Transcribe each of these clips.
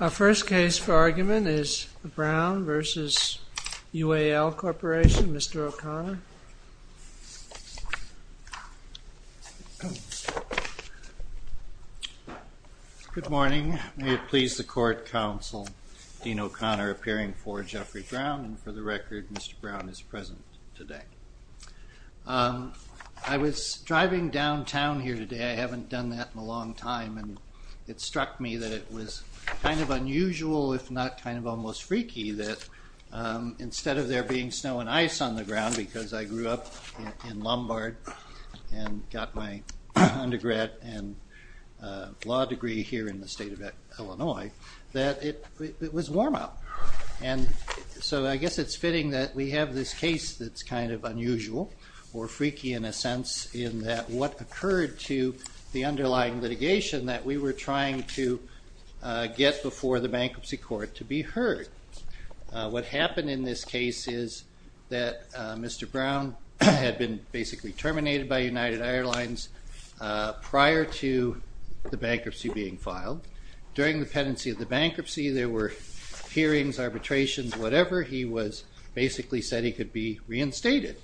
Our first case for argument is Brown v. UAL Corporation. Mr. O'Connor. Good morning. May it please the Court, Counsel Dean O'Connor appearing for Jeffrey Brown. And for the record, Mr. Brown is present today. I was driving downtown here today. I haven't done that in a long time. And it struck me that it was kind of unusual, if not kind of almost freaky, that instead of there being snow and ice on the ground, because I grew up in Lombard and got my undergrad and law degree here in the state of Illinois, that it was warm out. And so I guess it's fitting that we have this case that's kind of unusual, or freaky in a sense, in that what occurred to the underlying litigation that we were trying to get before the bankruptcy court to be heard. What happened in this case is that Mr. Brown had been basically terminated by United Airlines prior to the bankruptcy being filed. During the pendency of the bankruptcy, there were hearings, arbitrations, whatever. He was basically said he could be reinstated.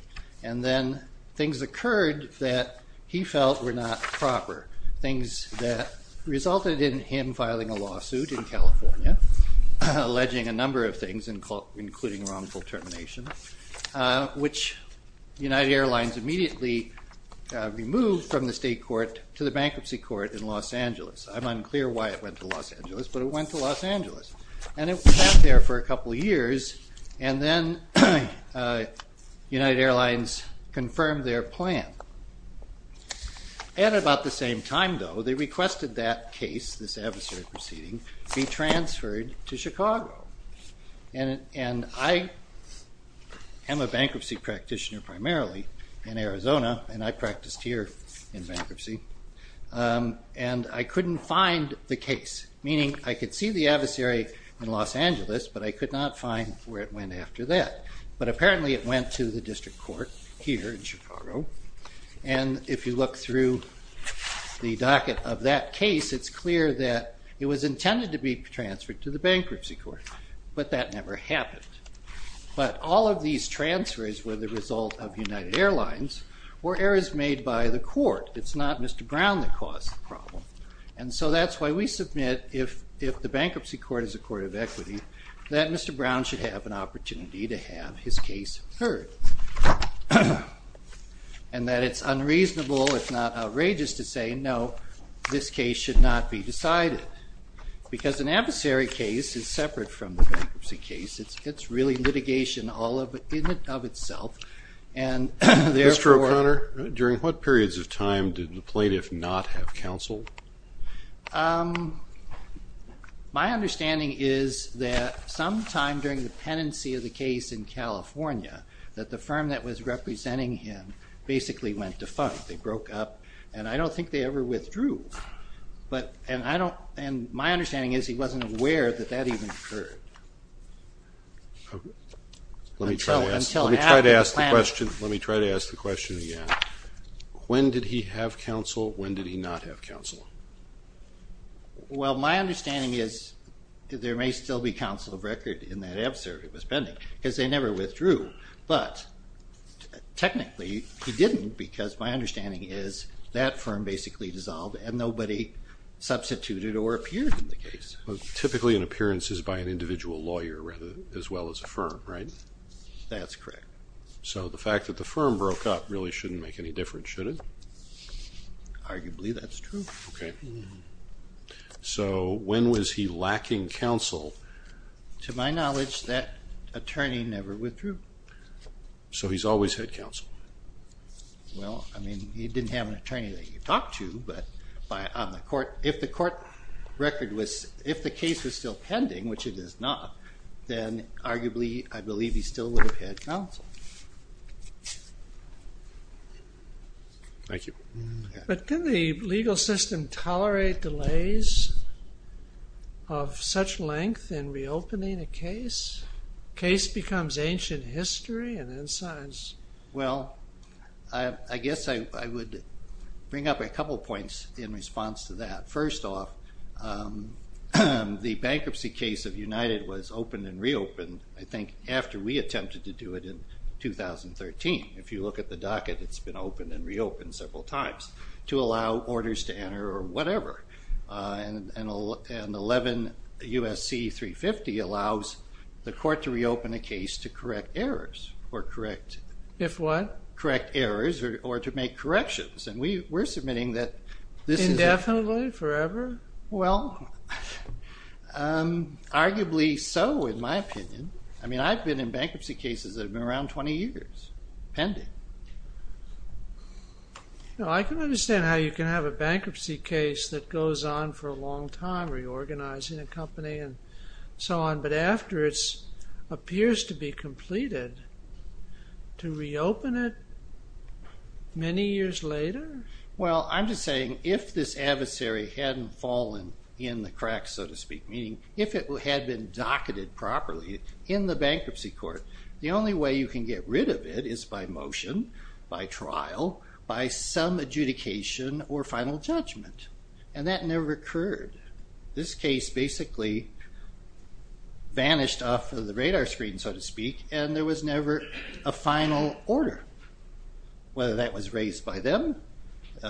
And then things occurred that he felt were not proper. Things that resulted in him filing a lawsuit in California, alleging a number of things, including wrongful termination, which United Airlines immediately removed from the state court to the bankruptcy court in Los Angeles. I'm unclear why it went to Los Angeles, but it went to Los Angeles. And it was out there for a couple of years, and then United Airlines confirmed their plan. At about the same time, though, they requested that case, this adversary proceeding, be transferred to Chicago. And I am a bankruptcy practitioner primarily in Arizona, and I practiced here in bankruptcy, and I couldn't find the case. Meaning I could see the adversary in Los Angeles, but I could not find where it went after that. But apparently it went to the district court here in Chicago. And if you look through the docket of that case, it's clear that it was intended to be transferred to the bankruptcy court, but that never happened. But all of these transfers were the result of United Airlines or errors made by the court. It's not Mr. Brown that caused the problem. And so that's why we submit, if the bankruptcy court is a court of equity, that Mr. Brown should have an opportunity to have his case heard. And that it's unreasonable, if not outrageous, to say, no, this case should not be decided. Because an adversary case is separate from the bankruptcy case. It's really litigation all in and of itself. Mr. O'Connor, during what periods of time did the plaintiff not have counsel? My understanding is that sometime during the penancy of the case in California, that the firm that was representing him basically went to funk. They broke up, and I don't think they ever withdrew. And my understanding is he wasn't aware that that even occurred. Let me try to ask the question again. When did he have counsel? When did he not have counsel? Well, my understanding is there may still be counsel of record in that adversary spending, because they never withdrew. But technically, he didn't, because my understanding is that firm basically dissolved and nobody substituted or appeared in the case. Well, typically an appearance is by an individual lawyer as well as a firm, right? That's correct. So the fact that the firm broke up really shouldn't make any difference, should it? Arguably, that's true. Okay. So when was he lacking counsel? To my knowledge, that attorney never withdrew. So he's always had counsel? Well, I mean, he didn't have an attorney that he could talk to. If the case was still pending, which it is not, then arguably I believe he still would have had counsel. Thank you. But can the legal system tolerate delays of such length in reopening a case? Case becomes ancient history and then science. Well, I guess I would bring up a couple points in response to that. First off, the bankruptcy case of United was opened and reopened, I think, after we attempted to do it in 2013. If you look at the docket, it's been opened and reopened several times to allow orders to enter or whatever. And 11 U.S.C. 350 allows the court to reopen a case to correct errors or correct. If what? Correct errors or to make corrections. And we're submitting that this is... Indefinitely, forever? Well, arguably so, in my opinion. I mean, I've been in bankruptcy cases that have been around 20 years, pending. No, I can understand how you can have a bankruptcy case that goes on for a long time, reorganizing a company and so on. But after it appears to be completed, to reopen it many years later? Well, I'm just saying if this adversary hadn't fallen in the cracks, so to speak, meaning if it had been docketed properly in the bankruptcy court, the only way you can get rid of it is by motion, by trial, by some adjudication or final judgment. And that never occurred. This case basically vanished off of the radar screen, so to speak, and there was never a final order. Whether that was raised by them,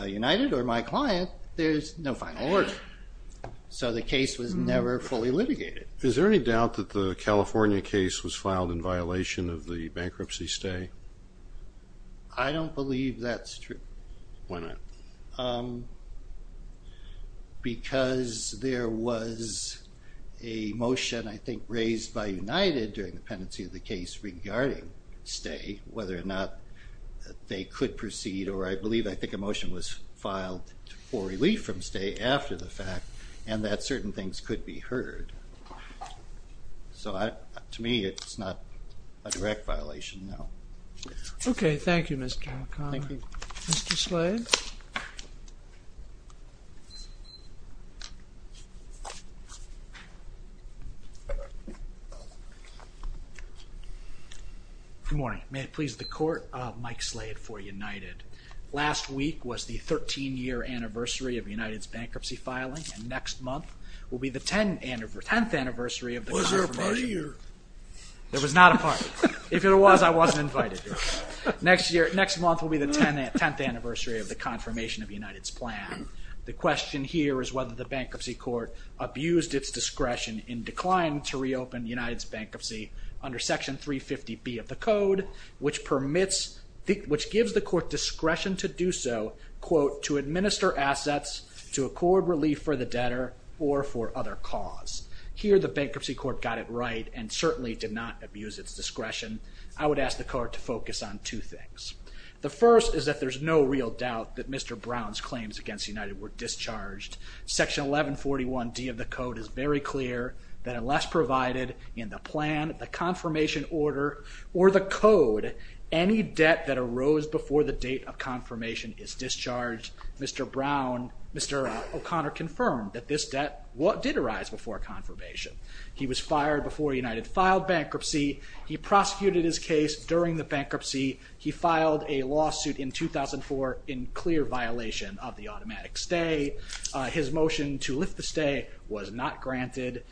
United, or my client, there's no final order. So the case was never fully litigated. Is there any doubt that the California case was filed in violation of the bankruptcy stay? I don't believe that's true. Why not? Because there was a motion, I think, raised by United during the pendency of the case regarding stay, whether or not they could proceed, or I believe, I think, a motion was filed for relief from stay after the fact, and that certain things could be heard. So to me, it's not a direct violation, no. Okay, thank you, Mr. O'Connor. Thank you. Mr. Slade? Good morning. May it please the Court, Mike Slade for United. Last week was the 13-year anniversary of United's bankruptcy filing, and next month will be the 10th anniversary of the confirmation of United's plan. Was there a party here? There was not a party. If there was, I wasn't invited. Next month will be the 10th anniversary of the confirmation of United's plan. The question here is whether the bankruptcy court abused its discretion in decline to reopen United's bankruptcy under Section 350B of the Code, which gives the Court discretion to do so, quote, to administer assets to accord relief for the debtor or for other cause. Here, the bankruptcy court got it right and certainly did not abuse its discretion. I would ask the Court to focus on two things. The first is that there's no real doubt that Mr. Brown's claims against United were discharged. Section 1141D of the Code is very clear that unless provided in the plan, the confirmation order, or the Code, any debt that arose before the date of confirmation is discharged. Mr. O'Connor confirmed that this debt did arise before confirmation. He was fired before United filed bankruptcy. He prosecuted his case during the bankruptcy. He filed a lawsuit in 2004 in clear violation of the automatic stay. His motion to lift the stay was not granted.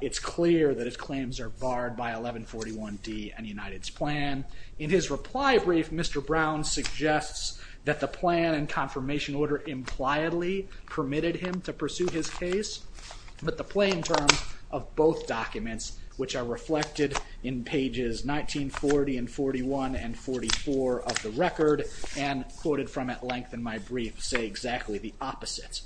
It's clear that his claims are barred by 1141D and United's plan. In his reply brief, Mr. Brown suggests that the plan and confirmation order impliedly permitted him to pursue his case, but the plain terms of both documents, which are reflected in pages 1940 and 41 and 44 of the record, and quoted from at length in my brief, say exactly the opposite.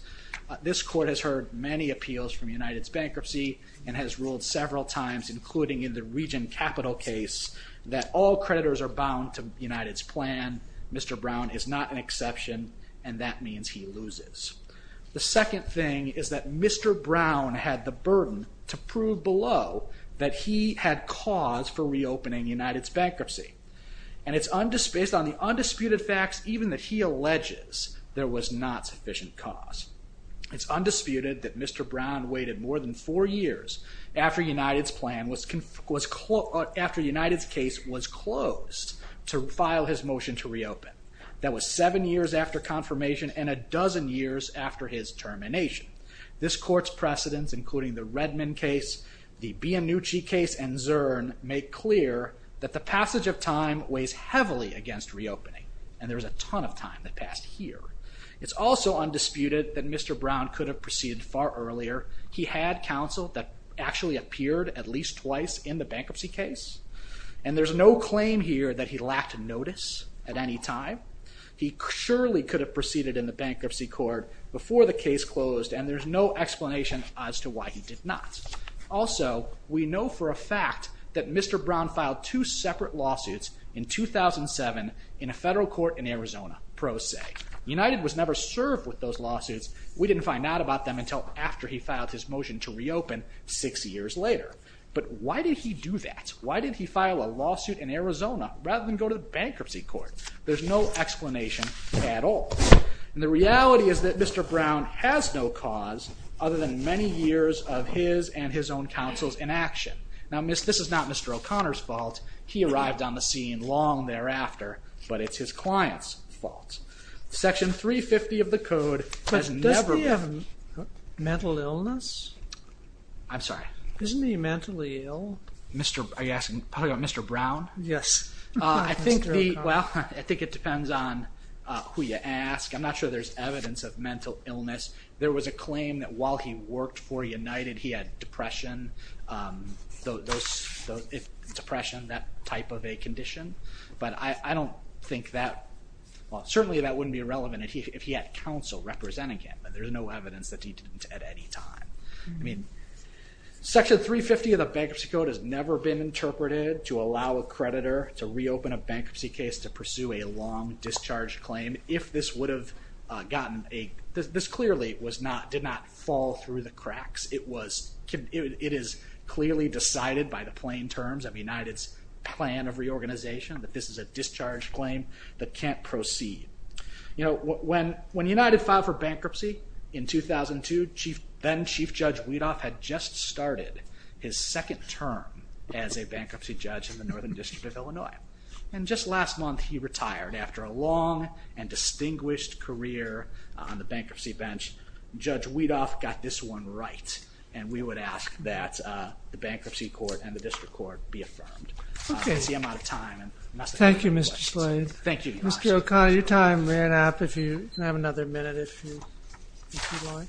This court has heard many appeals from United's bankruptcy and has ruled several times, including in the region capital case, that all creditors are bound to United's plan. Mr. Brown is not an exception, and that means he loses. The second thing is that Mr. Brown had the burden to prove below that he had cause for reopening United's bankruptcy. And it's based on the undisputed facts, even that he alleges there was not sufficient cause. It's undisputed that Mr. Brown waited more than four years after United's case was closed to file his motion to reopen. That was seven years after confirmation and a dozen years after his termination. This court's precedents, including the Redmond case, the Bianucci case, and Zurn, make clear that the passage of time weighs heavily against reopening. And there was a ton of time that passed here. It's also undisputed that Mr. Brown could have proceeded far earlier. He had counsel that actually appeared at least twice in the bankruptcy case. And there's no claim here that he lacked notice at any time. He surely could have proceeded in the bankruptcy court before the case closed, and there's no explanation as to why he did not. Also, we know for a fact that Mr. Brown filed two separate lawsuits in 2007 in a federal court in Arizona, pro se. United was never served with those lawsuits. We didn't find out about them until after he filed his motion to reopen six years later. But why did he do that? Why did he file a lawsuit in Arizona rather than go to the bankruptcy court? There's no explanation at all. And the reality is that Mr. Brown has no cause other than many years of his and his own counsel's inaction. Now, this is not Mr. O'Connor's fault. He arrived on the scene long thereafter, but it's his client's fault. Section 350 of the code has never been... But does he have mental illness? I'm sorry? Isn't he mentally ill? Are you talking about Mr. Brown? Yes. I think it depends on who you ask. I'm not sure there's evidence of mental illness. There was a claim that while he worked for United, he had depression. Depression, that type of a condition. But I don't think that... Well, certainly that wouldn't be relevant if he had counsel representing him, but there's no evidence that he didn't at any time. I mean, Section 350 of the bankruptcy code has never been interpreted to allow a creditor to reopen a bankruptcy case to pursue a long discharge claim. If this would have gotten a... This clearly did not fall through the cracks. It is clearly decided by the plain terms of United's plan of reorganization that this is a discharge claim that can't proceed. You know, when United filed for bankruptcy in 2002, then-Chief Judge Weedoff had just started his second term as a bankruptcy judge in the Northern District of Illinois. And just last month he retired after a long and distinguished career on the bankruptcy bench. Judge Weedoff got this one right. And we would ask that the bankruptcy court and the district court be affirmed. I see I'm out of time. Thank you, Mr. Slade. Thank you. Mr. O'Connor, your time ran out. If you have another minute, if you'd like.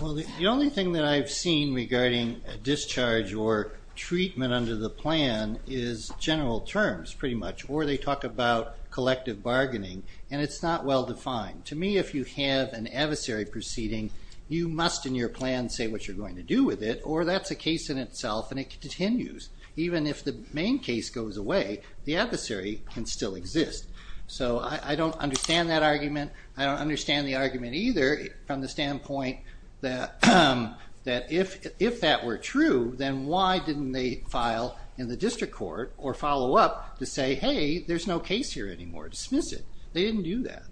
Well, the only thing that I've seen regarding a discharge or treatment under the plan is general terms, pretty much. Or they talk about collective bargaining. And it's not well defined. To me, if you have an adversary proceeding, you must in your plan say what you're going to do with it, or that's a case in itself and it continues. Even if the main case goes away, the adversary can still exist. So I don't understand that argument. I don't understand the argument either from the standpoint that if that were true, then why didn't they file in the district court or follow up to say, hey, there's no case here anymore. Dismiss it. They didn't do that.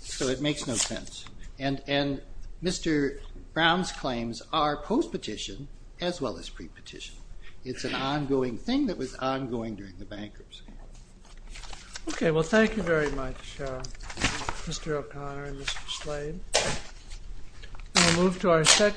So it makes no sense. And Mr. Brown's claims are post-petition as well as pre-petition. It's an ongoing thing that was ongoing during the bankruptcy. OK, well, thank you very much, Mr. O'Connor and Mr. Slade. We'll move to our second.